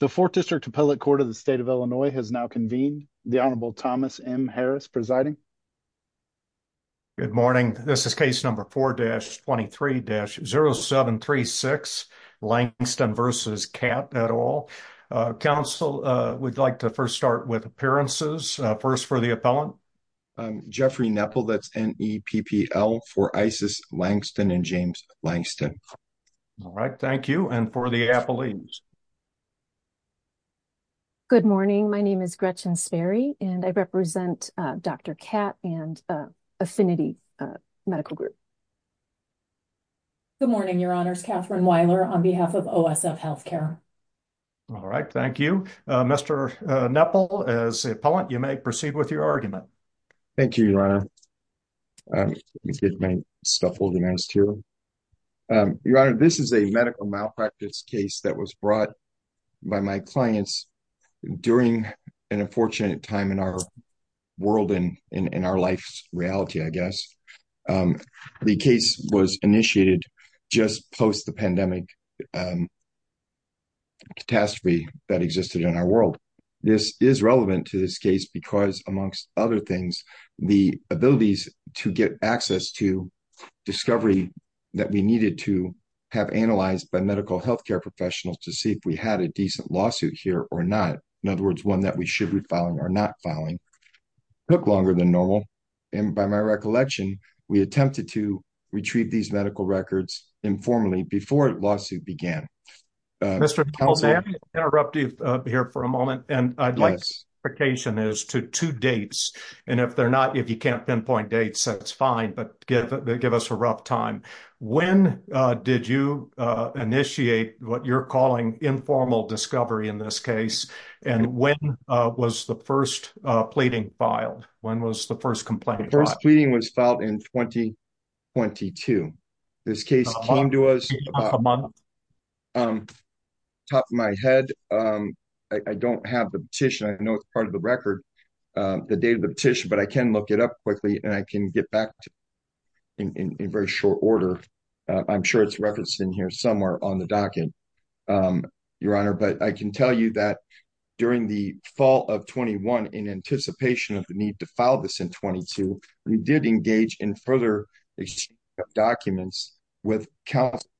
The 4th District Appellate Court of the State of Illinois has now convened. The Honorable Thomas M. Harris presiding. Good morning, this is case number 4-23-0736 Langston v. Catt et al. Council, we'd like to first start with appearances. First for the appellant. Jeffrey Nepple, that's N-E-P-P-L for Isis Langston and James Langston. All right, thank you. And for the appellees. Good morning, my name is Gretchen Sperry and I represent Dr. Catt and Affinity Medical Group. Good morning, Your Honors. Kathryn Weiler on behalf of OSF Healthcare. All right, thank you. Mr. Nepple, as appellant, you may proceed with your argument. Thank you, Your Honor. Let me get my stuff organized here. Your Honor, this is a medical malpractice case that was brought by my clients during an unfortunate time in our world and in our life's reality, I guess. The case was initiated just post the pandemic catastrophe that existed in our world. This is relevant to this case because, amongst other things, the abilities to get access to discovery that we needed to have analyzed by medical healthcare professionals to see if we had a decent lawsuit here or not, in other words, one that we should be filing or not filing, took longer than normal. And by my recollection, we attempted to retrieve these medical records informally before the lawsuit began. Mr. Nepple, may I interrupt you here for a moment? And I'd like clarification as to two dates. And if they're not, if you can't pinpoint dates, that's fine, but give us a rough time. When did you initiate what you're calling informal discovery in this case? And when was the first pleading filed? When was the first complaint filed? The first came to us about a month ago. Top of my head, I don't have the petition. I know it's part of the record, the date of the petition, but I can look it up quickly and I can get back to you in very short order. I'm sure it's referenced in here somewhere on the docket, your honor. But I can tell you that during the fall of 21, in anticipation of the need to file this in 22, we did engage in further exchange of documents with counsel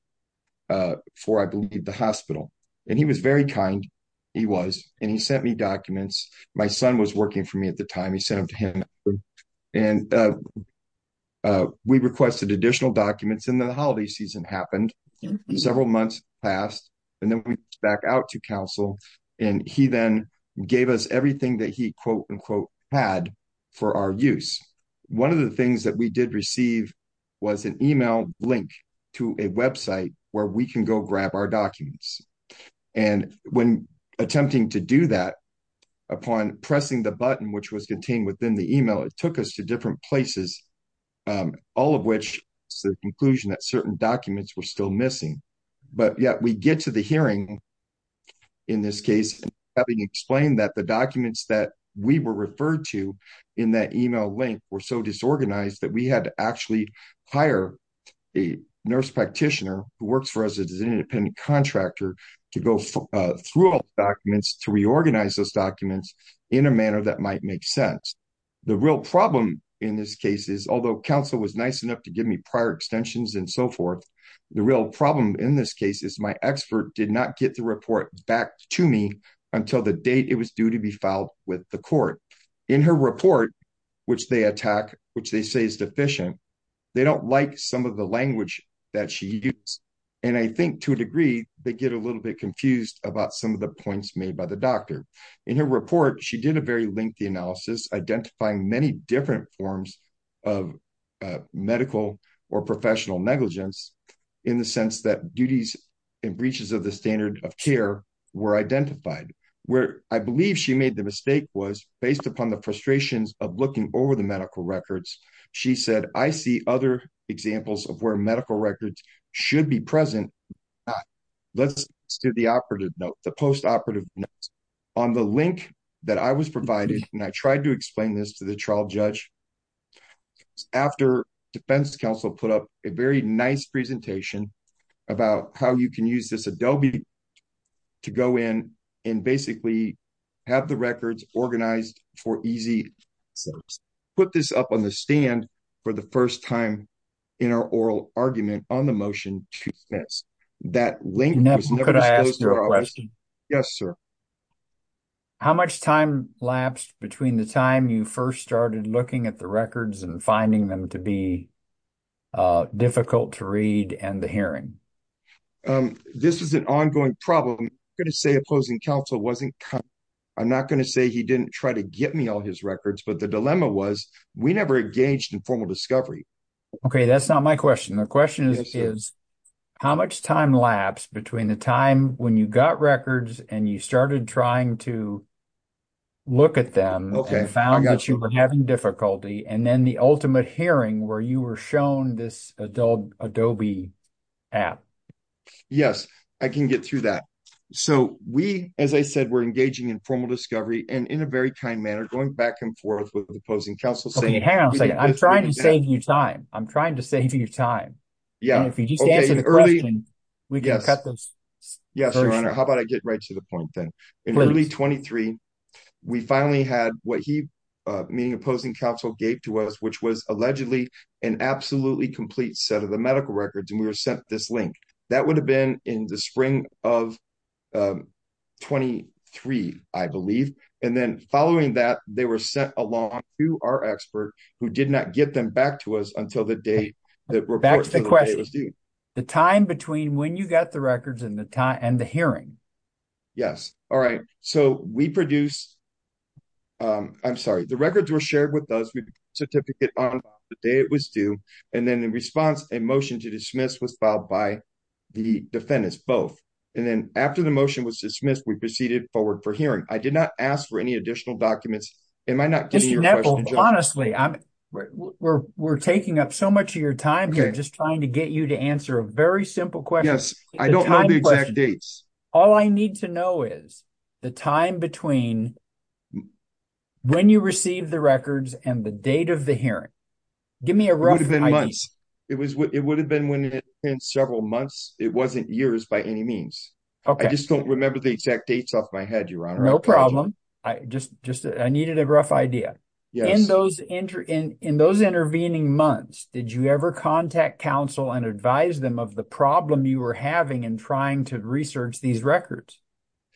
for, I believe, the hospital. And he was very kind. He was. And he sent me documents. My son was working for me at the time. He sent them to him. And we requested additional documents and then the holiday season happened. Several months passed. And then we went back out to counsel and he then gave us everything that he quote, unquote, had for our use. One of the things that we did receive was an email link to a website where we can go grab our documents. And when attempting to do that, upon pressing the button, which was contained within the email, it took us to different places, all of which is the conclusion that certain documents were still missing. But yet we get to the hearing. In this case, having explained that the documents that we were referred to in that email link were so disorganized that we had to actually hire a nurse practitioner who works for us as an independent contractor to go through documents to reorganize those documents in a manner that might make sense. The real problem in this case is although counsel was prior extensions and so forth, the real problem in this case is my expert did not get the report back to me until the date it was due to be filed with the court. In her report, which they attack, which they say is deficient, they don't like some of the language that she used. And I think to a degree, they get a little bit confused about some of the points made by the doctor. In her report, she did a very lengthy analysis identifying many different forms of medical or professional negligence in the sense that duties and breaches of the standard of care were identified. Where I believe she made the mistake was based upon the frustrations of looking over the medical records, she said, I see other examples of where medical records should be present. Let's do the operative the post-operative notes. On the link that I was provided, and I tried to explain this to the trial judge after defense counsel put up a very nice presentation about how you can use this Adobe to go in and basically have the records organized for easy. Put this up on the stand for the first time in our oral argument on the motion to dismiss that link. Yes, sir. How much time lapsed between the time you first started looking at the records and finding them to be difficult to read and the hearing? This is an ongoing problem. I'm going to say opposing counsel wasn't. I'm not going to say he didn't try to get me all his records, but the dilemma was we never engaged in formal discovery. Okay. That's not my question. The question is, how much time lapsed between the time when you got records and you started trying to look at them and found that you were having difficulty and then the ultimate hearing where you were shown this Adobe app? Yes, I can get through that. So we, as I said, we're engaging in formal discovery and in a very kind manner going back and forth with the opposing counsel. I'm trying to save you time. I'm trying to save you time. Yeah. We can cut those. Yes, your honor. How about I get right to the point then? In early 23, we finally had what he, meaning opposing counsel gave to us, which was allegedly an absolutely complete set of the records. And we were sent this link that would have been in the spring of 23, I believe. And then following that, they were sent along to our expert who did not get them back to us until the date that report was due. The time between when you got the records and the time and the hearing. Yes. All right. So we produce, I'm sorry, the records were shared with us. We certificate on the day it was due. And then in response, a motion to dismiss was filed by the defendants, both. And then after the motion was dismissed, we proceeded forward for hearing. I did not ask for any additional documents. Am I not getting your question? Honestly, we're taking up so much of your time here, just trying to get you to answer a very simple question. Yes. I don't know the exact dates. All I need to know is the time between when you received the records and the date of the hearing. Give me a rough idea. It would have been when it had been several months. It wasn't years by any means. I just don't remember the exact dates off my head, Your Honor. No problem. I just needed a rough idea. In those intervening months, did you ever contact counsel and advise them of the problem you were having in trying to research these records?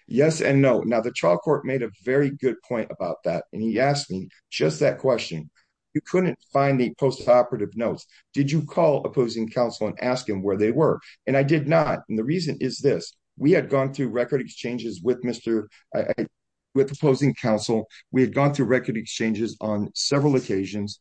Yes and no. Now, the trial court made a very good point about that. And he asked me just that question. You couldn't find the post-operative notes. Did you call opposing counsel and ask him where they were? And I did not. And the reason is this. We had gone through record exchanges with opposing counsel. We had gone through record exchanges on several occasions.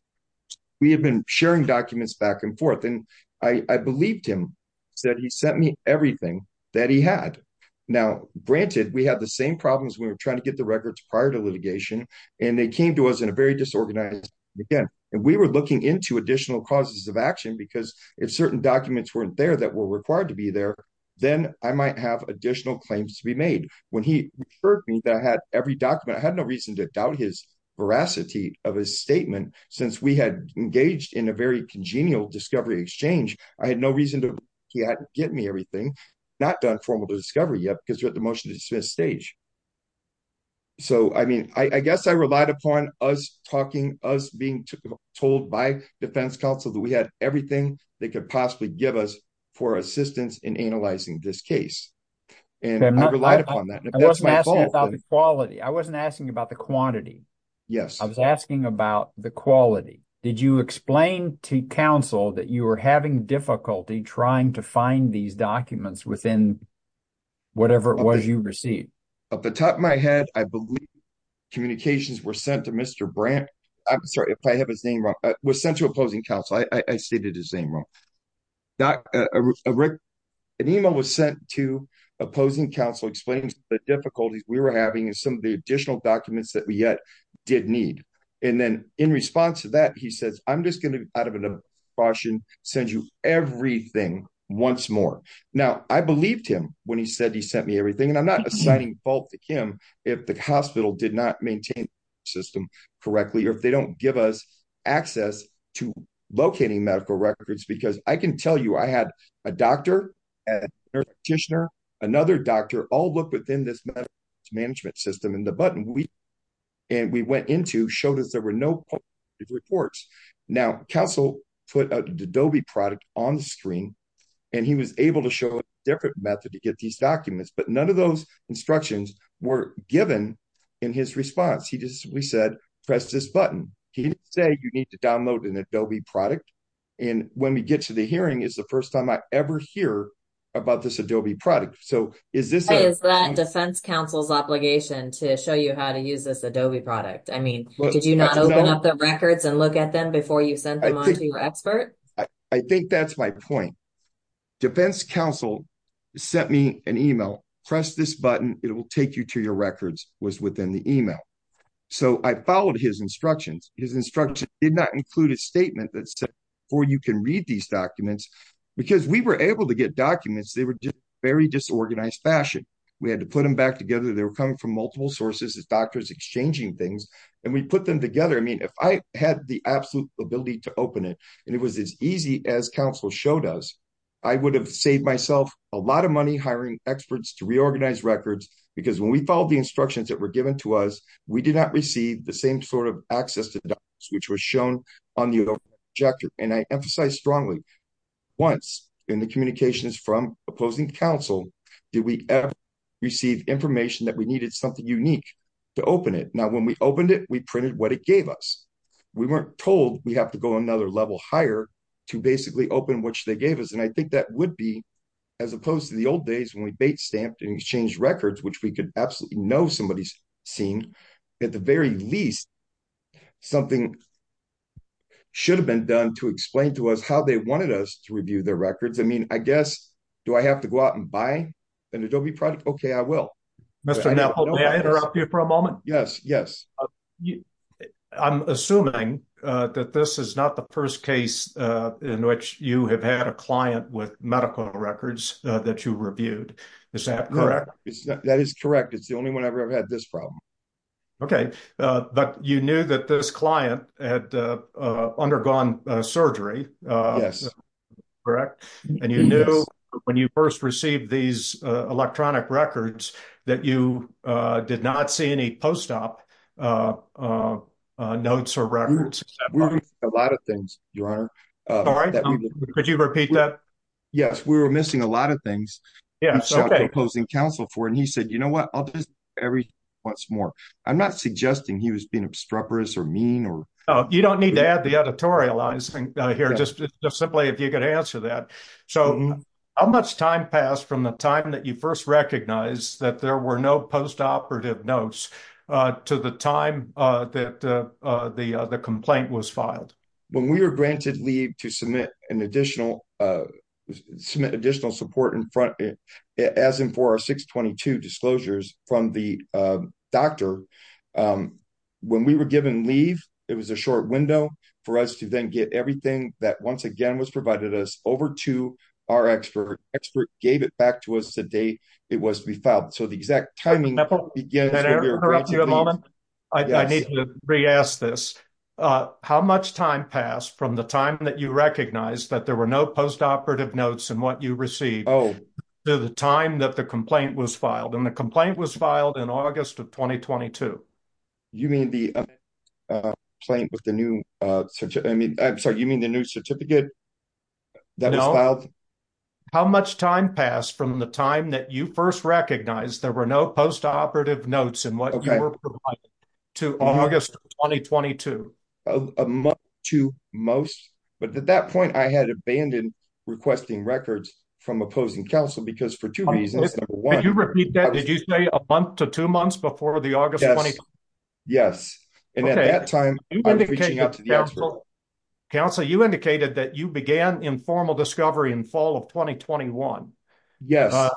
We had been sharing documents back and forth. And I believed him. He said he sent me everything that he had. Now, granted, we had the same problems when we were trying to get records prior to litigation. And they came to us in a very disorganized way. And we were looking into additional causes of action. Because if certain documents weren't there that were required to be there, then I might have additional claims to be made. When he referred me that I had every document, I had no reason to doubt his veracity of his statement. Since we had engaged in a very congenial discovery exchange, I had no reason to believe he had given me everything, not done discovery yet, because you're at the motion to dismiss stage. So I mean, I guess I relied upon us talking, us being told by defense counsel that we had everything they could possibly give us for assistance in analyzing this case. And I relied upon that. I wasn't asking about the quality. I wasn't asking about the quantity. Yes. I was asking about the quality. Did you explain to counsel that you were having difficulty trying to find these documents within whatever it was you received? At the top of my head, I believe communications were sent to Mr. Brandt. I'm sorry if I have his name wrong, was sent to opposing counsel. I stated his name wrong. An email was sent to opposing counsel explaining the difficulties we were having and some of the additional documents that we yet did need. And then in response to that, he says, I'm just going out of an abortion, sends you everything once more. Now, I believed him when he said he sent me everything. And I'm not assigning fault to Kim, if the hospital did not maintain the system correctly, or if they don't give us access to locating medical records, because I can tell you, I had a doctor, a nurse practitioner, another doctor all look within this management system and the button we, and we went into showed us there were no reports. Now, counsel put an Adobe product on the screen. And he was able to show a different method to get these documents. But none of those instructions were given. In his response, he just we said, press this button. He didn't say you need to download an Adobe product. And when we get to the hearing is the first time I ever hear about this Adobe product. So is this defense counsel's obligation to show you how to use this Adobe product? I mean, did you not open up the records and look at them before you send them on to your expert? I think that's my point. Defense counsel sent me an email, press this button, it will take you to your records was within the email. So I followed his instructions. His instruction did not include a statement that said, for you can read these documents, because we were able to get documents, they were very disorganized fashion, we had to put them back together, they were coming from multiple sources as doctors exchanging things. And we put them together. I mean, if I had the absolute ability to open it, and it was as easy as counsel showed us, I would have saved myself a lot of money hiring experts to reorganize records. Because when we follow the instructions that were given to us, we did not receive the same sort of access to which was shown on your jacket. And I emphasize strongly, once in the communications from opposing counsel, did we ever receive information that we needed something unique to open it. Now, when we opened it, we printed what it gave us. We weren't told we have to go another level higher to basically open which they gave us. And I think that would be as opposed to the old days when we bait stamped and exchange records, which we could absolutely know somebody's seen, at the very least, something should have been done to explain to us how they wanted us to review their records. I mean, I guess, do I have to go out and buy an Adobe product? Okay, I will. Mr. Neville, may I interrupt you for a moment? Yes, yes. I'm assuming that this is not the first case in which you have had a client with medical records that you reviewed. Is that correct? That is correct. It's the only one I've ever had this problem. Okay. But you knew that this client had undergone surgery? Correct. And you know, when you first received these electronic records, that you did not see any post-op notes or records? A lot of things, Your Honor. Could you repeat that? Yes, we were missing a lot of things. Yes. Okay. And he said, you know what, I'll do this every once more. I'm not suggesting he was being obstreperous or mean or... You don't need to add the editorializing here, just simply if you could answer that. So, how much time passed from the time that you first recognized that there were no post-operative notes to the time that the complaint was filed? When we were granted leave to submit additional support as in for our 622 disclosures from the doctor, when we were given leave, it was a short window for us to then get everything that once again was provided us over to our expert. The expert gave it back to us the day it was to be filed. So, the exact timing... Can I interrupt you a moment? I need to re-ask this. How much time passed from the time that you recognized that there were no post-operative notes in what you received to the time that the complaint was filed? And the complaint was filed in August of 2022. You mean the new certificate that was filed? How much time passed from the time that you first recognized there were no post-operative notes in what you were provided to August 2022? A month to most. But at that point, I had abandoned requesting records from opposing counsel because for two reasons. Number one... Can you repeat that? Did you say a month to two months before the August 22nd? Yes. And at that time, I was reaching out to the expert. Counsel, you indicated that you began informal discovery in fall of 2021. Yes.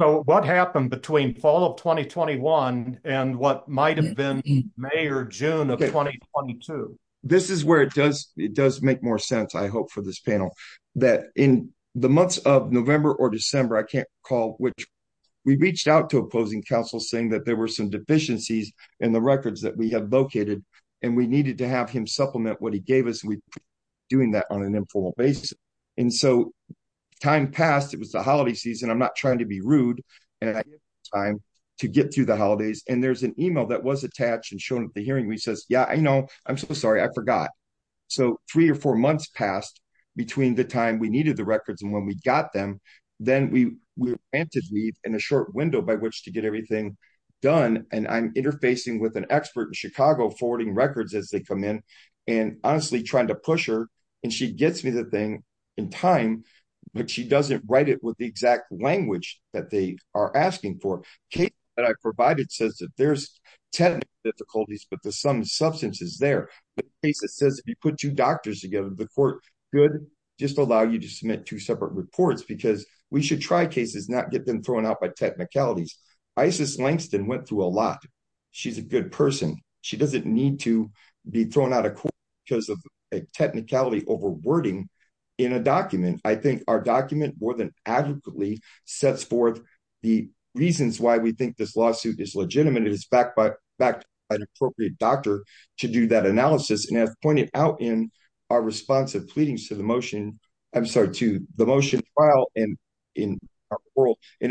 So, what happened between fall of 2021 and what might have been May or June of 2022? This is where it does make more sense, I hope, for this panel. That in the months of November or December, I can't recall which, we reached out to opposing counsel saying that there were some deficiencies in the records that we had located and we needed to have him supplement what he gave us. We were doing that on an informal basis. And so, time passed. It was the holiday season. I'm not trying to be rude. And I gave him time to get through the holidays. And there's an email that was attached and shown at the hearing where he says, yeah, I know. I'm so sorry. I forgot. So, three or four months passed between the time we needed the records and when we got them. Then we were granted leave and a short window by which to get everything done. And I'm interfacing with an expert in Chicago forwarding records as they come in. And honestly, trying to push her. And she gets me the thing in time, but she doesn't write it with the exact language that they are asking for. Case that I provided says that there's technical difficulties, but there's some substances there. The case that says if you put two doctors together, the court could just allow you to submit two separate reports because we should try cases, not get them thrown out by technicalities. Isis Langston went through a lot. She's a good person. She doesn't need to be thrown out of court because of a technicality over wording in a document. I think our document more than adequately sets forth the reasons why we think this lawsuit is legitimate. It is backed by an appropriate doctor to do that analysis. And as pointed out in our response of pleadings to the motion, I'm sorry, to the motion file and in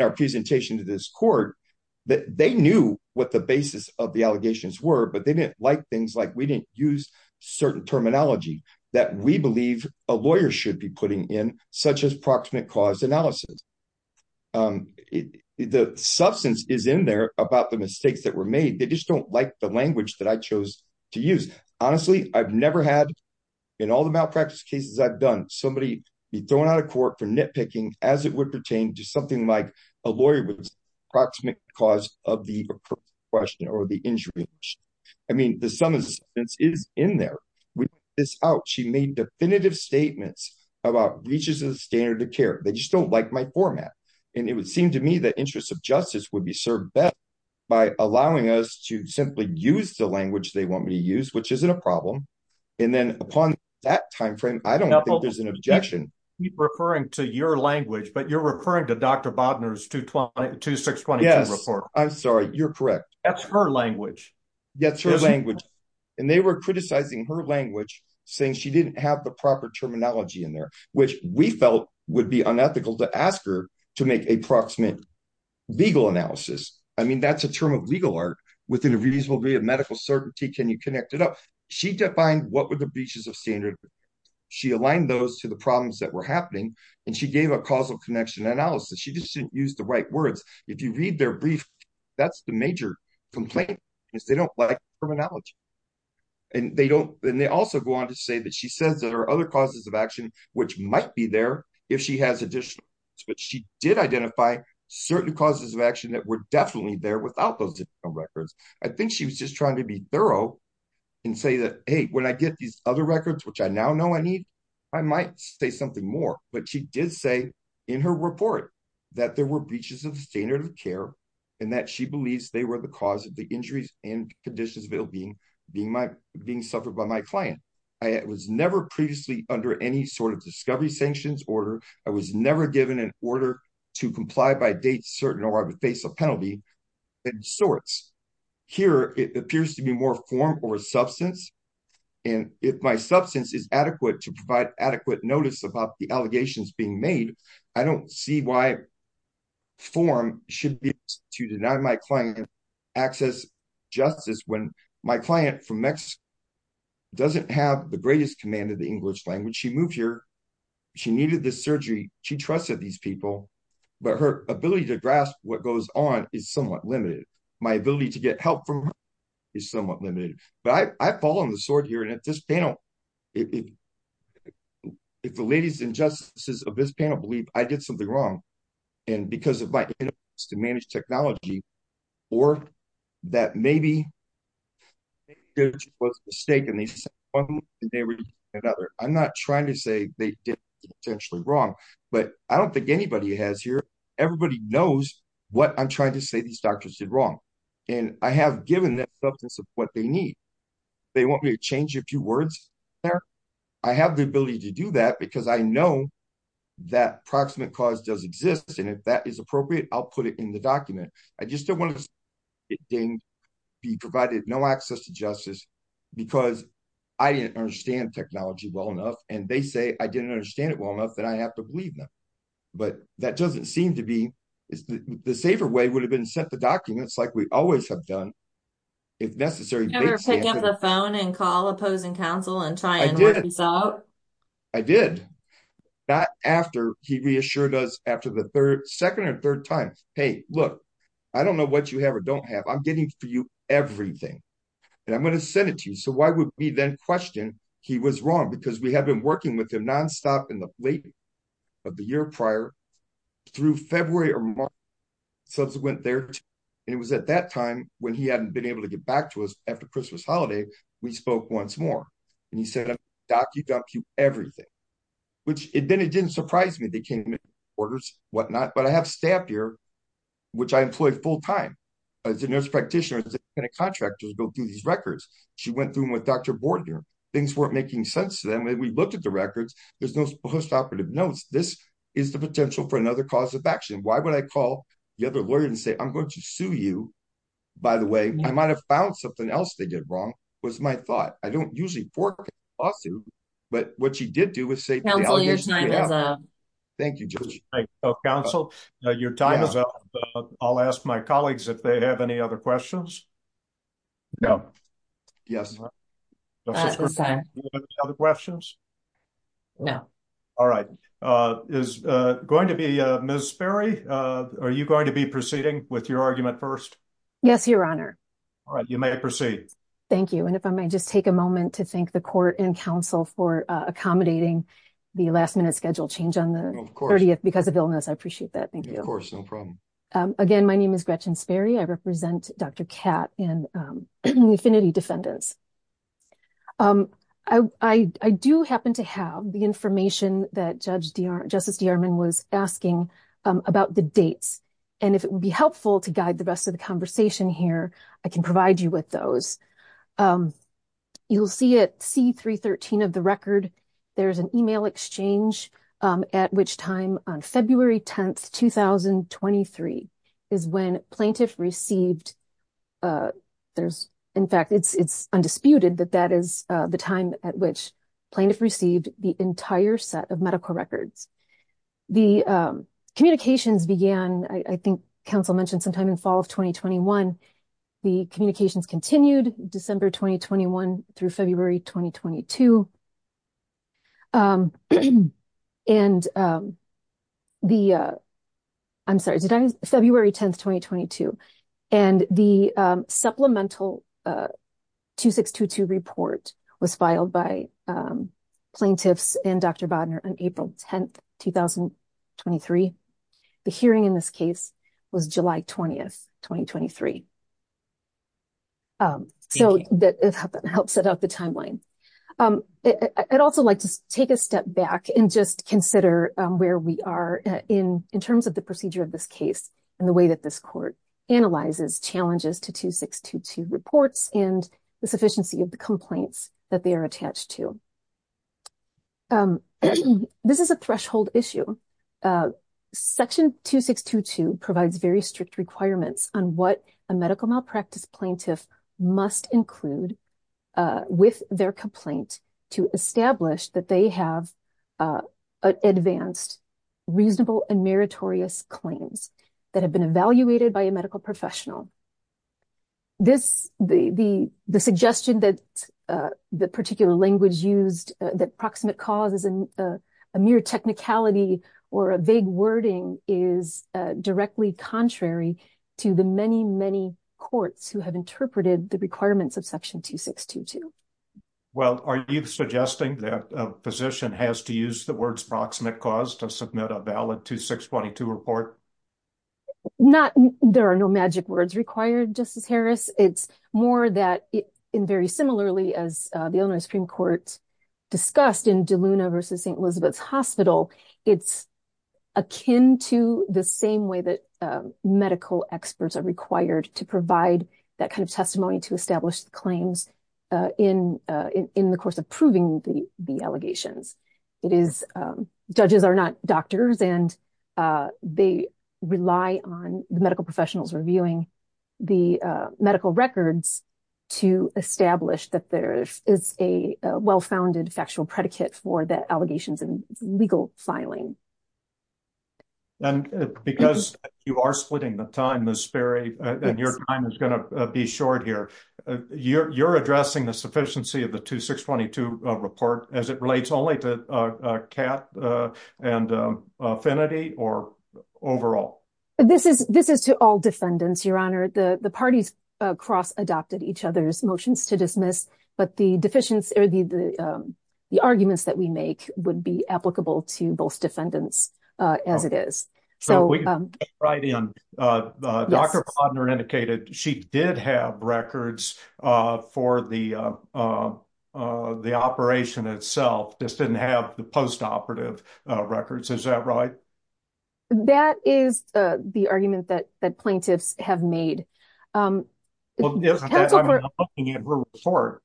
our presentation to this court, that they knew what the basis of the allegations were, but they didn't like things like we didn't use certain terminology that we believe a lawyer should be putting in such as proximate cause analysis. The substance is in there about the mistakes that were made. They just don't like the language that I chose to use. Honestly, I've never had in all the malpractice cases I've done, somebody be thrown out of court for nitpicking as it would pertain to something like a lawyer proximate cause of the question or the injury. I mean, the substance is in there, which is out. She made definitive statements about reaches of the standard of care. They just don't like my format. And it would seem to me that interests of justice would be served by allowing us to simply use the language they want me to use, which isn't a problem. And then upon that timeframe, I don't think there's an objection. Referring to your language, but you're referring to Dr. Bodnar's 226 report. I'm sorry. You're correct. That's her language. That's her language. And they were criticizing her language saying she didn't have the proper terminology in there, which we felt would be unethical to ask her to make a proximate legal analysis. I mean, that's a term of legal art within a reasonable degree of medical certainty. Can you connect it up? She defined what were the breaches of standard. She aligned those to the problems that were happening. And she gave a causal connection analysis. She just didn't use the right words. If you read their brief, that's the major complaint is they don't like terminology. And they also go on to say that she says there are other causes of action, which might be there if she has additional. But she did identify certain causes of action that were definitely there without those records. I think she was just trying to be thorough and say that, hey, I get these other records, which I now know I need, I might say something more. But she did say in her report that there were breaches of the standard of care and that she believes they were the cause of the injuries and conditions of ill-being being suffered by my client. I was never previously under any sort of discovery sanctions order. I was never given an order to comply by date certain or I would face a penalty and sorts. Here, it appears to be more form or substance. And if my substance is adequate to provide adequate notice about the allegations being made, I don't see why form should be to deny my client access justice when my client from Mexico doesn't have the greatest command of the English language. She moved here. She needed this surgery. She trusted these people, but her ability to grasp what goes on is somewhat limited. My ability to get help from her is somewhat limited. But I fall on the sword here. And at this panel, if the ladies and justices of this panel believe I did something wrong, and because of my inability to manage technology, or that maybe it was a mistake. I'm not trying to say they did something potentially wrong, but I don't think anybody has here. Everybody knows what I'm trying to say these doctors did wrong. And I have given them substance of what they need. They want me to change a few words there. I have the ability to do that because I know that proximate cause does exist. And if that is appropriate, I'll put it in the document. I just don't want to be provided no access to justice, because I didn't understand technology well enough. And they say I didn't understand it well enough that I have to believe but that doesn't seem to be the safer way would have been sent the documents like we always have done if necessary. Pick up the phone and call opposing counsel and try and work this out. I did that after he reassured us after the third, second or third time. Hey, look, I don't know what you have or don't have. I'm getting for you everything. And I'm going to send it to you. So why would we then question he was wrong because we have been working with him nonstop in the of the year prior through February or subsequent there. And it was at that time when he hadn't been able to get back to us after Christmas holiday. We spoke once more. And he said, Doc, you got you everything, which it then it didn't surprise me. They came orders, whatnot. But I have staff here, which I employ full time as a nurse practitioner and a contractor to go through these records. She went through with Dr. Bordner. Things weren't making sense to them. We looked at records. There's no postoperative notes. This is the potential for another cause of action. Why would I call the other lawyer and say, I'm going to sue you, by the way, I might have found something else they did wrong, was my thought. I don't usually for lawsuit. But what she did do was say, thank you, Joe. Counsel, your time is up. I'll ask my colleagues if they have any other questions. No. Yes. Other questions? No. All right. Is going to be Miss Barry, are you going to be proceeding with your argument first? Yes, Your Honor. All right, you may proceed. Thank you. And if I might just take a moment to thank the court and counsel for accommodating the last minute schedule change on the 30th because of illness. I appreciate that. Thank you. Of course. No problem. Again, my name is Gretchen Sperry. I represent Dr. Katt and the Affinity Defendants. I do happen to have the information that Justice DeArmond was asking about the dates. And if it would be helpful to guide the rest of the conversation here, I can provide you with those. You'll see at C313 of there's an email exchange at which time on February 10th, 2023 is when plaintiff received. In fact, it's undisputed that that is the time at which plaintiff received the entire set of medical records. The communications began, I think counsel mentioned sometime in fall of 2021. The communications continued December 2021 through February 2022. And the, I'm sorry, February 10th, 2022. And the supplemental 2622 report was filed by plaintiffs and Dr. Bodnar on April 10th, 2023. The hearing in this case was July 20th, 2023. So that helps set up the timeline. I'd also like to take a step back and just consider where we are in terms of the procedure of this case and the way that this court analyzes challenges to 2622 reports and the sufficiency of the complaints that they are attached to. This is a threshold issue. Section 2622 provides very strict requirements on what a medical malpractice plaintiff must include with their complaint to establish that they have advanced reasonable and meritorious claims that have been evaluated by a medical professional. This, the suggestion that the particular language used that proximate cause is a mere technicality or a vague wording is directly contrary to the many, many courts who have interpreted the requirements of section 2622. Well, are you suggesting that a physician has to use the words proximate cause to submit a valid 2622 report? Not, there are no magic words required, Justice Harris. It's more that in very similarly as the Illinois Supreme Court discussed in DeLuna versus St. Elizabeth's Hospital, it's akin to the same way that medical experts are required to provide that kind of testimony to establish the claims in the course of proving the allegations. It is, judges are not doctors and they rely on the medical professionals reviewing the medical records to establish that there is a well-founded factual predicate for the allegations and legal filing. And because you are splitting the time, Ms. Sperry, and your time is going to be short here, you're addressing the sufficiency of the 2622 report as it relates only to cat and affinity or overall? This is to all defendants, Your Honor. The parties cross-adopted each other's motions to dismiss, but the arguments that we make would be applicable to both defendants as it is. Dr. Plotner indicated she did have records for the operation itself, just didn't have the post-operative records, is that right? That is the argument that plaintiffs have made. I'm looking at her report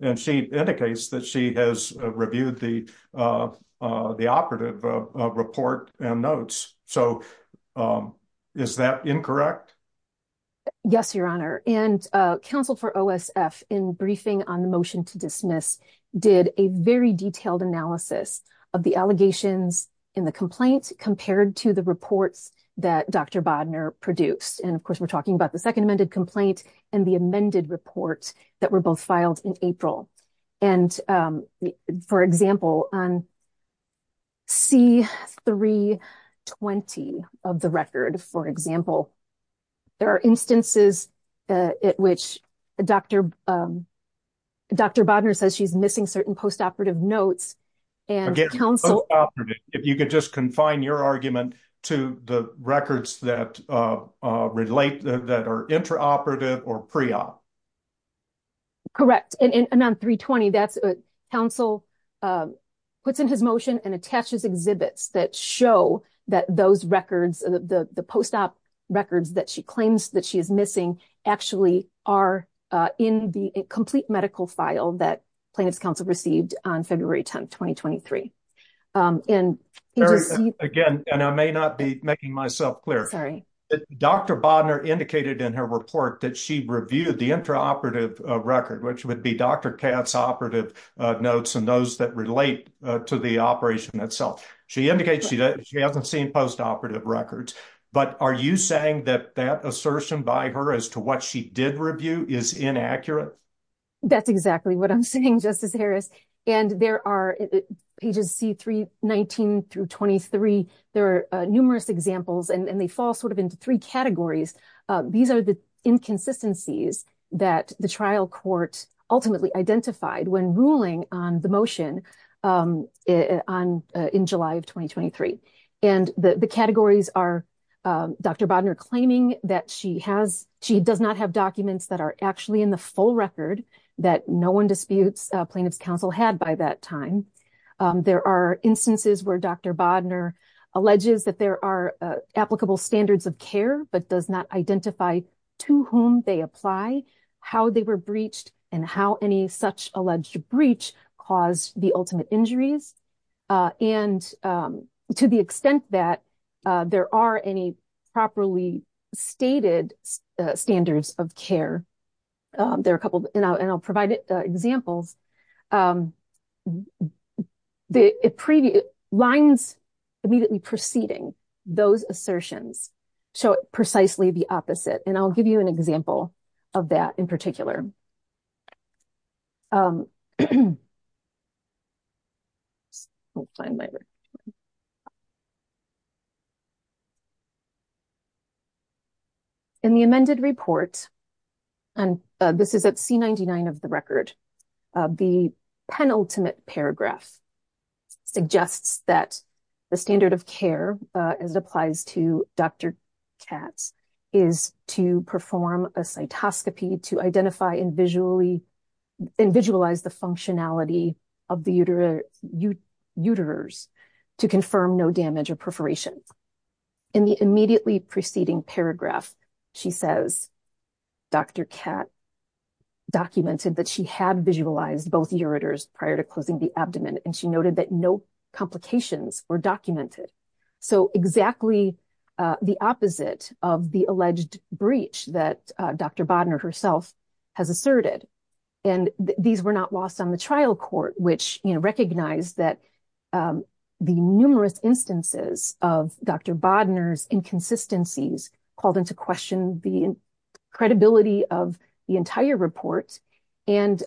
and she indicates that she has reviewed the operative report and notes, so is that incorrect? Yes, Your Honor, and counsel for OSF in briefing on the motion to dismiss did a very detailed analysis of the allegations in the complaint compared to the reports that Dr. Bodner produced. And, of course, we're talking about the second amended complaint and the amended report that were both filed in April. And, for example, on C320 of the record, for example, there are instances at which Dr. Bodner says she's certain post-operative notes. If you could just confine your argument to the records that relate, that are intraoperative or pre-op. Correct, and on 320, counsel puts in his motion and attaches exhibits that show that those records, the post-op records that she claims that she is missing, actually are in the complete medical file that plaintiff's counsel received on February 10, 2023. Again, and I may not be making myself clear, Dr. Bodner indicated in her report that she reviewed the intraoperative record, which would be Dr. Katz's operative notes and those that relate to the operation itself. She indicates she hasn't seen post-operative records, but are you saying that that assertion by her as to what she did review is inaccurate? That's exactly what I'm saying, Justice Harris. And there are pages C319 through 23, there are numerous examples and they fall sort of into three categories. These are the inconsistencies that the trial court ultimately identified when ruling on the motion in July of 2023. And the categories are Dr. Bodner claiming that she does not have documents that are actually in the full record that no one disputes plaintiff's counsel had by that time. There are instances where Dr. Bodner alleges that there are applicable standards of care, but does not identify to whom they apply, how they were breached, and how such alleged breach caused the ultimate injuries. And to the extent that there are any properly stated standards of care, there are a couple, and I'll provide examples, the lines immediately preceding those assertions show precisely the opposite. And I'll give you an example of that in particular. In the amended report, and this is at C99 of the record, the penultimate paragraph suggests that the standard of care as it applies to Dr. Katz is to perform a cytoscopy to identify and visualize the functionality of the uterus to confirm no damage or perforation. In the immediately preceding paragraph, she says, Dr. Katz documented that she had visualized both prior to closing the abdomen, and she noted that no complications were documented. So exactly the opposite of the alleged breach that Dr. Bodner herself has asserted. And these were not lost on the trial court, which recognized that the numerous instances of Dr. Bodner's inconsistencies called into question the credibility of the entire report, and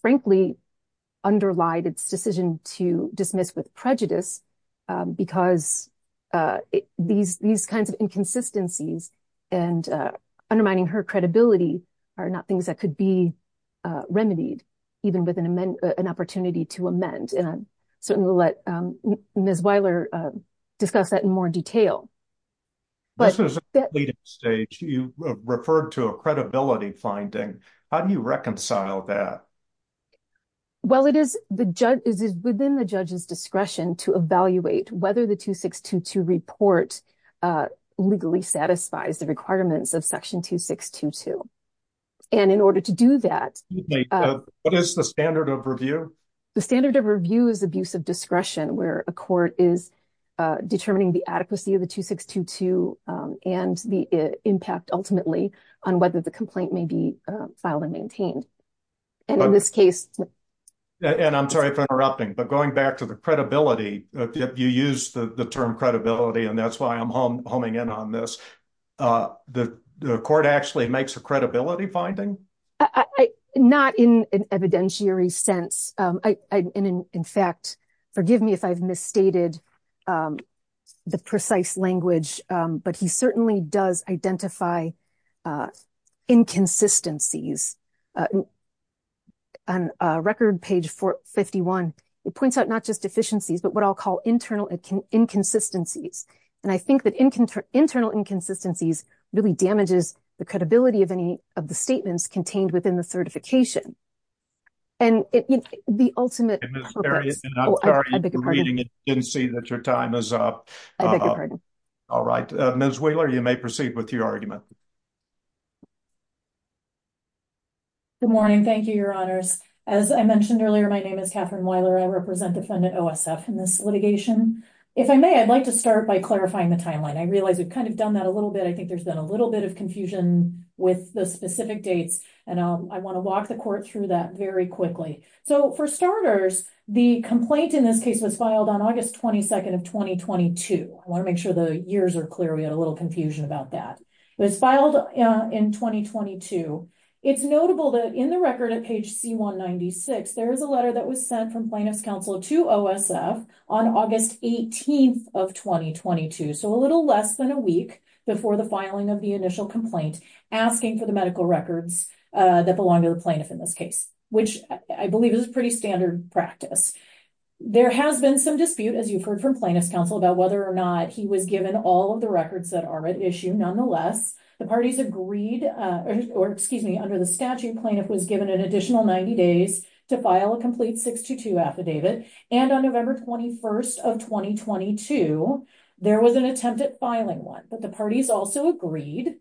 frankly, underlied its decision to dismiss with prejudice, because these kinds of inconsistencies and undermining her credibility are not things that could be remedied, even with an opportunity to amend. And I'll certainly let Ms. Weiler discuss that in more detail. This was a leading stage. You referred to a credibility finding. How do you reconcile that? Well, it is within the judge's discretion to evaluate whether the 2622 report legally satisfies the requirements of section 2622. And in order to do that... What is the standard of review? The standard of review is abuse of discretion, where a court is determining the adequacy of the 2622 and the impact ultimately on whether the complaint may be filed and maintained. And in this case... And I'm sorry for interrupting, but going back to the credibility, you use the term credibility, and that's why I'm homing in on this. The court actually makes a credibility finding? I... Not in an evidentiary sense. And in fact, forgive me if I've misstated the precise language, but he certainly does identify inconsistencies. On record page 451, it points out not just deficiencies, but what I'll call internal inconsistencies. And I think that internal inconsistencies really damages the credibility of any of the statements contained within the certification. And the ultimate... And Ms. Wheeler, I'm sorry if you're reading and didn't see that your time is up. I beg your pardon. All right. Ms. Wheeler, you may proceed with your argument. Good morning. Thank you, Your Honors. As I mentioned earlier, my name is Katherine Wheeler. I represent defendant OSF in this litigation. If I may, I'd like to start by clarifying the timeline. I realize we've kind of done that a little bit. I think there's been a little bit of confusion with the specific dates, and I want to walk the court through that very quickly. So for starters, the complaint in this case was filed on August 22nd of 2022. I want to make sure the years are clear. We had a little confusion about that. It was filed in 2022. It's notable that in the record at page C196, there is a letter that was sent from Plaintiff's Counsel to OSF on August 18th of 2022. So a little less than a week before the filing of the initial complaint asking for the medical records that belong to the plaintiff in this case, which I believe is pretty standard practice. There has been some dispute, as you've heard from Plaintiff's Counsel, about whether or not he was given all of the records that are at issue. Nonetheless, the parties agreed, or excuse me, under the statute, plaintiff was given an additional 90 days to file a complete affidavit. And on November 21st of 2022, there was an attempt at filing one, but the parties also agreed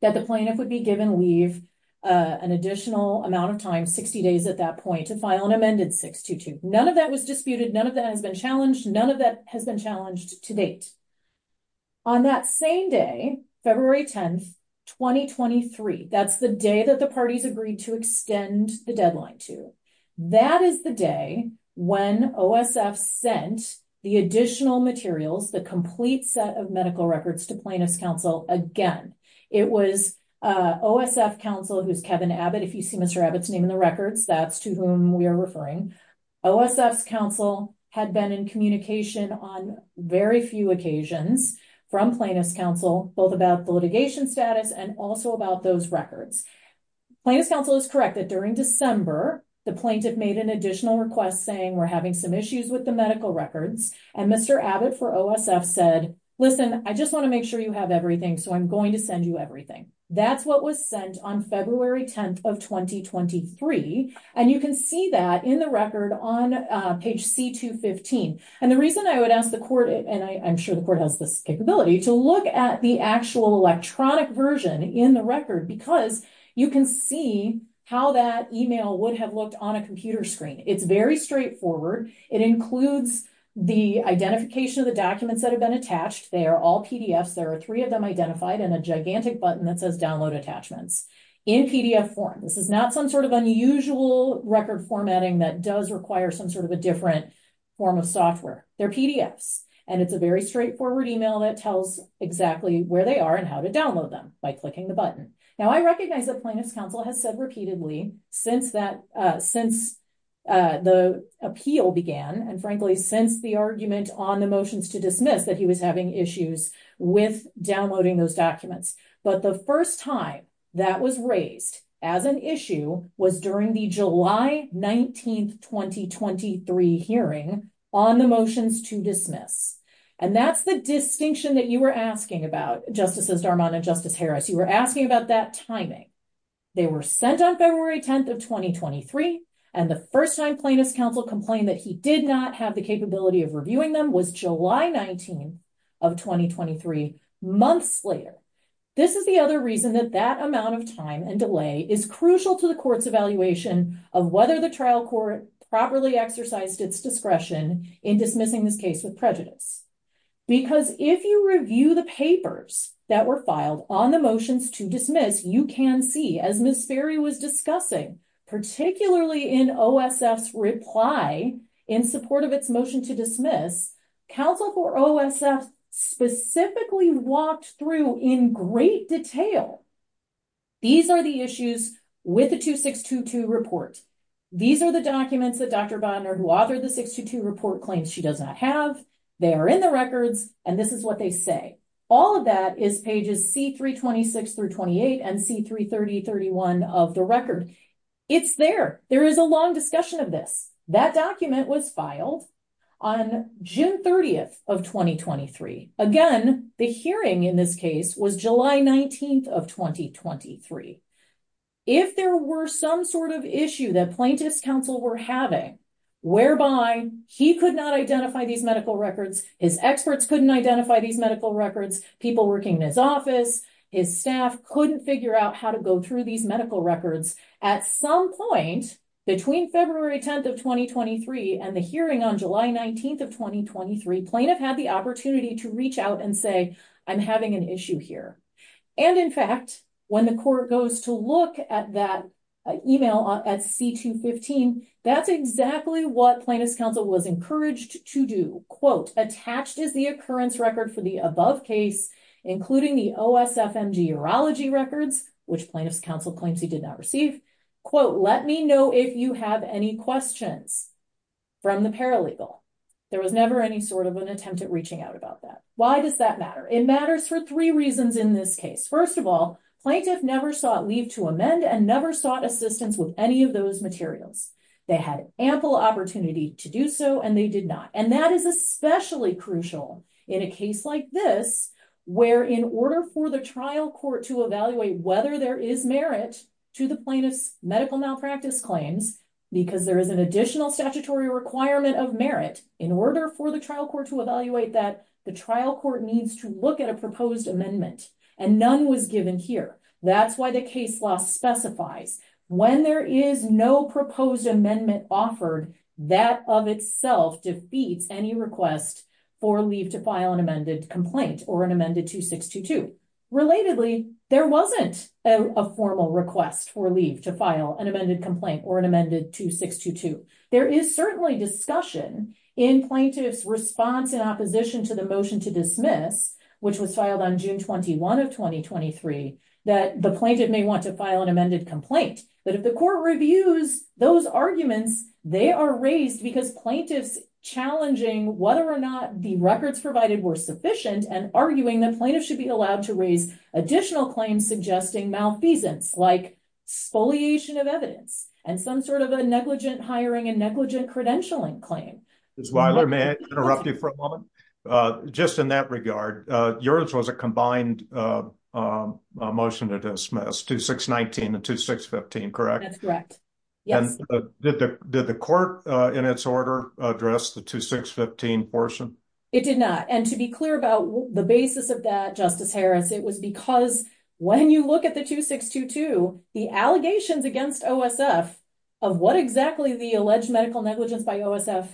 that the plaintiff would be given leave an additional amount of time, 60 days at that point, to file an amended 622. None of that was disputed. None of that has been challenged. None of that has been challenged to date. On that same day, February 10th, 2023, that's the day that the day when OSF sent the additional materials, the complete set of medical records, to Plaintiff's Counsel again. It was OSF Counsel, who's Kevin Abbott, if you see Mr. Abbott's name in the records, that's to whom we are referring. OSF's Counsel had been in communication on very few occasions from Plaintiff's Counsel, both about the litigation status and also about those records. Plaintiff's Counsel is correct that during December, the plaintiff made an additional request saying we're having some issues with the medical records. And Mr. Abbott for OSF said, listen, I just want to make sure you have everything, so I'm going to send you everything. That's what was sent on February 10th of 2023. And you can see that in the record on page C215. And the reason I would ask the court, and I'm sure the court has this capability, to look at the actual electronic version in the record, because you can see how that email would have looked on a computer screen. It's very straightforward. It includes the identification of the documents that have been attached. They are all PDFs. There are three of them identified and a gigantic button that says download attachments in PDF form. This is not some sort of unusual record formatting that does require some sort of a different form of software. They're PDFs. And it's a very straightforward email that tells exactly where they are and how to download them by clicking the button. Now I recognize that Plaintiff's Counsel has said repeatedly since the appeal began, and frankly since the argument on the motions to dismiss that he was having issues with downloading those documents. But the first time that was raised as an issue was during the July 19th, 2023 hearing on the motions to dismiss. And that's the distinction that you were asking about, Justices Darman and Justice Harris. You were asking about that timing. They were sent on February 10th of 2023, and the first time Plaintiff's Counsel complained that he did not have the capability of reviewing them was July 19 of 2023, months later. This is the other reason that that amount of time and delay is crucial to the court's evaluation of whether the trial court properly exercised its discretion in dismissing this case with prejudice. Because if you review the papers that were filed on the motions to dismiss, you can see as Ms. Ferry was discussing, particularly in OSF's reply in support of its motion to dismiss, counsel for OSF specifically walked through in great detail. These are the issues with the 2622 report. These are the documents that Dr. Bonner, who authored the 622 report, claims she does not have. They are in the records, and this is what they say. All of that is pages C326 through 28 and C330, 31 of the record. It's there. There is a long discussion of this. That document was filed on June 30th of 2023. Again, the hearing in this case was July 19th of 2023. If there were some sort of issue that plaintiff's counsel were having whereby he could not identify these medical records, his experts couldn't identify these medical records, people working in his office, his staff couldn't figure out how to go through these medical records, at some point between February 10th of 2023 and the hearing on July 19th of 2023, plaintiff had the opportunity to reach out and say, I'm having an issue here. And in fact, when the court goes to look at that email at C215, that's exactly what plaintiff's counsel was encouraged to do. Quote, attached is the occurrence record for the above case, including the OSFM urology records, which plaintiff's counsel claims he did not receive. Quote, let me know if you have any questions from the paralegal. There was never any sort of an attempt at reaching out about that. Why does that matter? It matters for three reasons in this case. First of all, plaintiff never sought leave to amend and never sought assistance with any of those materials. They had ample opportunity to do so and they did not. And that is especially crucial in a case like this, where in order for the trial court to evaluate whether there is merit to the plaintiff's medical malpractice claims, because there is an additional statutory requirement of merit, in order for the trial court to evaluate that, the trial court needs to look at a proposed amendment. And none was given here. That's why the case law specifies when there is no proposed amendment offered, that of itself defeats any request for leave to file an amended complaint or an amended 2622. Relatedly, there a formal request for leave to file an amended complaint or an amended 2622. There is certainly discussion in plaintiff's response in opposition to the motion to dismiss, which was filed on June 21 of 2023, that the plaintiff may want to file an amended complaint. But if the court reviews those arguments, they are raised because plaintiffs challenging whether or not the records provided were sufficient and arguing that plaintiffs should be allowed to raise additional claims suggesting malfeasance, like spoliation of evidence and some sort of a negligent hiring and negligent credentialing claim. Ms. Weiler, may I interrupt you for a moment? Just in that regard, yours was a combined motion to dismiss, 2619 and 2615, correct? That's correct, yes. Did the court in its order address the 2615 portion? It did not. And to be clear about the basis of that, Justice Harris, it was because when you look at the 2622, the allegations against OSF of what exactly the alleged medical negligence by OSF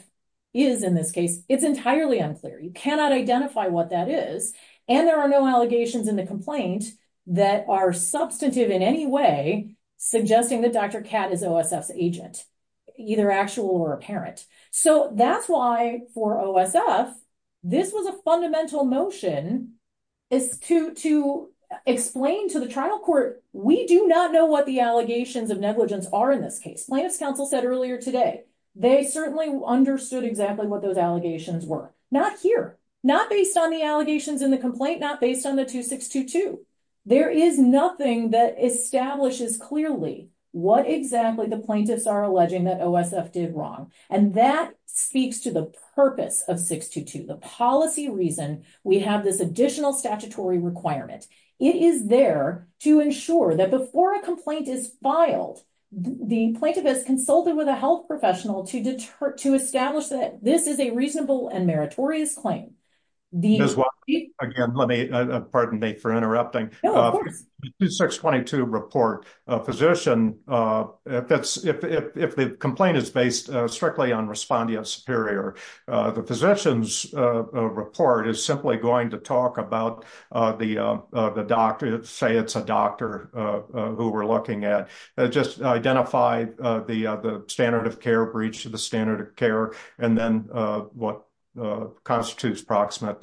is in this case, it's entirely unclear. You cannot identify what that is. And there are no allegations in the complaint that are substantive in any way, suggesting that Dr. Catt is OSF's agent, either actual or apparent. So that's why for OSF, this was a fundamental motion to explain to the trial court, we do not know what the allegations of negligence are in this case. Plaintiff's counsel said earlier today, they certainly understood exactly what those allegations were. Not here, not based on the allegations in the complaint, not based on the 2622. There is nothing that establishes clearly what exactly the plaintiffs are alleging that OSF did wrong. And that speaks to the purpose of 622, the policy reason we have this additional statutory requirement. It is there to ensure that before a complaint is filed, the plaintiff has consulted with a health professional to establish that this is a reasonable and meritorious claim. Again, let me, pardon me for interrupting. The 2622 report, a physician, if the complaint is based strictly on respondea superior, the physician's report is simply going to talk about the doctor, say it's a doctor who we're looking at, just identify the standard of care breach to the standard of care, and then what constitutes proximate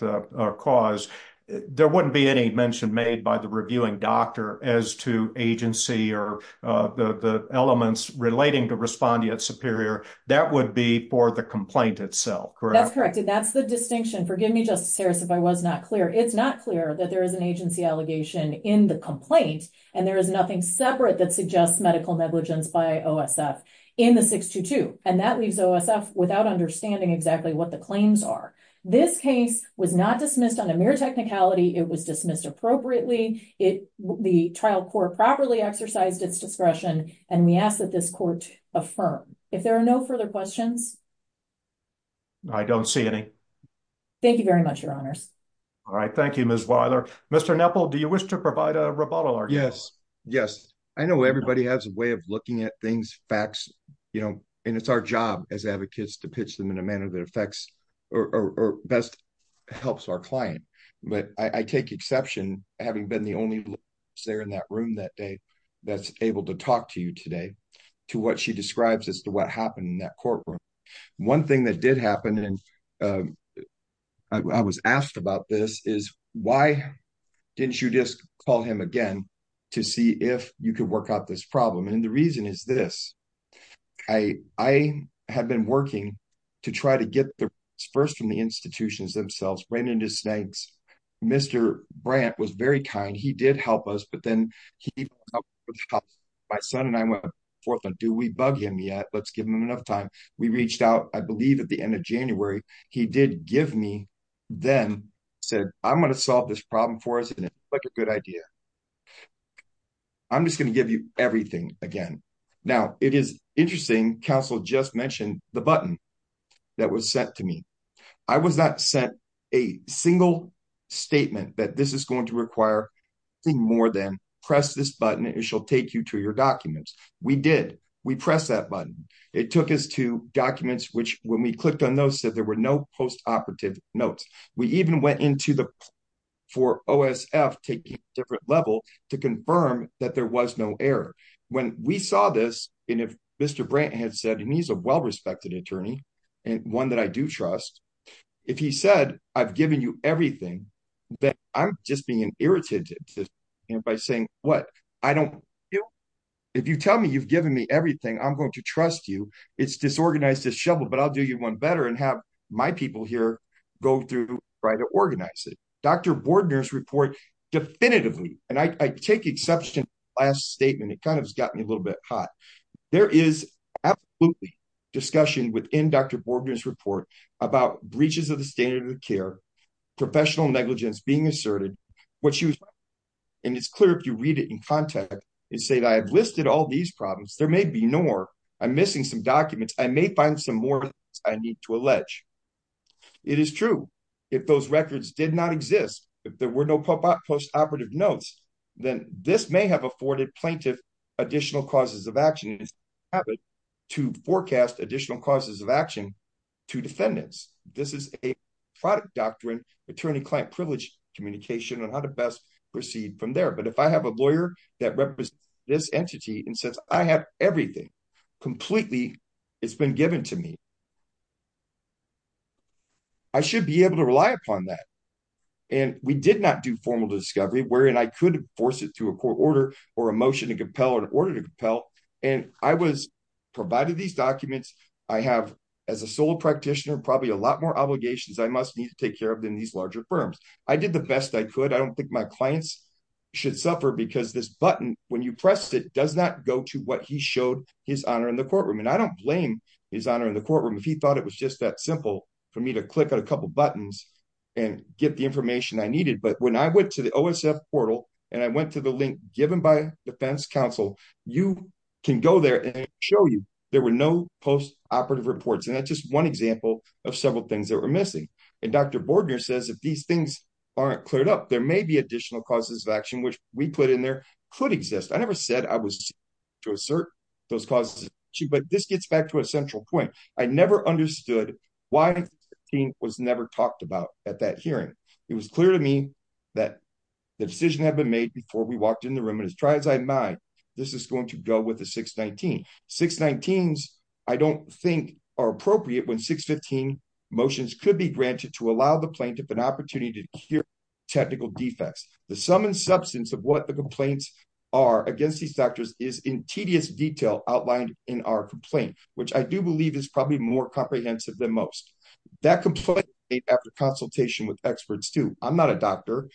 cause. There wouldn't be any mention made by the reviewing doctor as to agency or the elements relating to respondea superior. That would be for the complaint itself, correct? That's correct. That's the distinction. Forgive me, Justice Harris, if I was not clear. It's not clear that there is an agency allegation in the complaint, and there is nothing separate that suggests medical negligence by OSF in the 622, and that leaves OSF without understanding exactly what the claims are. This case was not dismissed on a mere technicality. It was dismissed appropriately. The trial court properly exercised its discretion, and we ask that this court affirm. If there are no further questions. I don't see any. Thank you very much, Your Honors. All right. Thank you, Ms. Weiler. Mr. Kneppel, do you wish to provide a rebuttal? Yes. Yes. I know everybody has a way of looking at things, facts, and it's our job as advocates to pitch them in a manner that best helps our client, but I take exception, having been the only lawyer there in that room that day that's able to talk to you today to what she describes as to what happened in that courtroom. One thing that did happen, and I was asked about this, is why didn't you just call him again to see if you could work out this problem? And the reason is this. I had been working to try to get the first from the institutions themselves, Brandon Desnanks. Mr. Brandt was very kind. He did help us, but then he, my son and I went forth and do we bug him yet? Let's give him enough time. We reached out, I believe at the end of January. He did give me then said, I'm going to solve this problem for us. And it's like a good idea. I'm just going to give you everything again. Now it is interesting. Counsel just mentioned the button that was sent to me. I was not sent a single statement that this is going to require more than press this button. It shall take you to your documents. We did. We press that button. It took us to documents, which when we clicked on those said there were no post-operative notes. We even went into the, for OSF taking a different level to confirm that there was no error. When we saw this, and if Mr. Brandt had said, and he's a well-respected attorney and one that I do trust. If he said, I've given you everything that I'm just being irritated by saying what I don't. If you tell me you've given me everything, I'm going to trust you. It's disorganized, disheveled, but I'll do you one better and have my people here go through, try to organize it. Dr. Bordner's report definitively. And I take exception last statement. It kind of has gotten a little bit hot. There is absolutely discussion within Dr. Bordner's report about breaches of the standard of care, professional negligence being asserted. What she was, and it's clear if you read it in contact and say that I have listed all these problems, there may be more, I'm missing some documents. I may find some more I need to allege. It is true. If those records did not exist, if there were no pop-up post-operative notes, then this may have afforded plaintiff additional causes of action. To forecast additional causes of action to defendants. This is a product doctrine, attorney-client privilege communication on how to best proceed from there. But if I have a lawyer that represents this entity, and since I have everything completely, it's been given to me, I should be able to rely upon that. And we did not do formal discovery wherein I could force it through a court order or a motion to compel or an order to compel. And I was provided these documents. I have, as a sole practitioner, probably a lot more obligations I must need to take care of than these larger firms. I did the best I could. I don't think my clients should suffer because this button, when you press it, does not go to what he showed his honor in the courtroom. And I don't blame his honor in the courtroom. If he thought it was just that simple for me to click on a couple of buttons and get the information I needed. But when I went to the OSF portal and I went to the link given by defense counsel, you can go there and show you there were no post-operative reports. And that's just one example of several things that were missing. And Dr. Bordner says, if these things aren't cleared up, there may be additional causes of action, which we put in there could exist. I never said I was to assert those causes, but this gets back to a central point. I never understood why it was never talked about at that hearing. It was clear to me that the decision had been made before we walked in the room. And as dry as I might, this is going to go with the 619. 619s, I don't think are appropriate when 615 motions could be granted to allow the plaintiff an opportunity to hear technical defects. The sum and substance of what the complaints are against these doctors is in tedious detail outlined in our complaint, which I do believe is probably more comprehensive than most. That complaint is made after consultation with experts too. I'm not a doctor.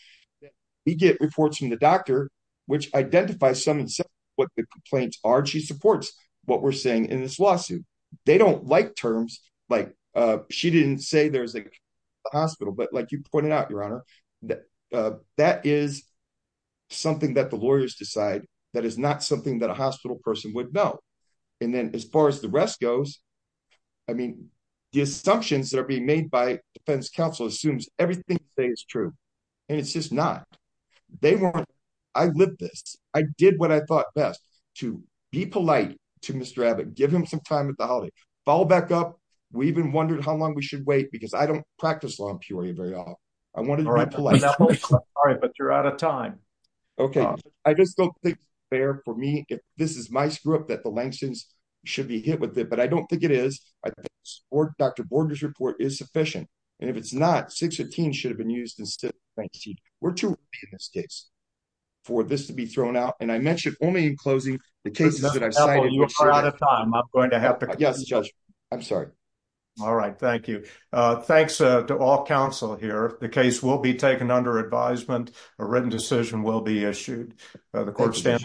We get reports from the doctor, which identifies some of what the complaints are. She supports what we're saying in this lawsuit. They don't like terms like she didn't say there's a hospital, but like you pointed out, your honor, that that is something that the lawyers decide that is not something that a hospital person would know. And then as far as the rest goes, I mean, the assumptions that are being made by defense counsel assumes everything they say is true. And it's just not, they weren't. I lived this. I did what I thought best to be polite to Mr. Abbott, give him some time at the holiday, follow back up. We even wondered how long we should wait because I don't practice law in Peoria very often. I wanted to be polite. Sorry, but you're out of time. Okay. I just don't think it's fair for me. This is my screw up that the Langston's should be hit with it, but I don't think it is. I think Dr. Borden's report is sufficient. And if it's not, six or teen should have been used instead. Thank you. We're too in this case for this to be thrown out. And I mentioned only in closing the cases that I've signed. Yes, judge. I'm sorry. All right. Thank you. Uh, thanks to all counsel here. The case will be taken under advisement. A written decision will be issued. Uh, the court stands.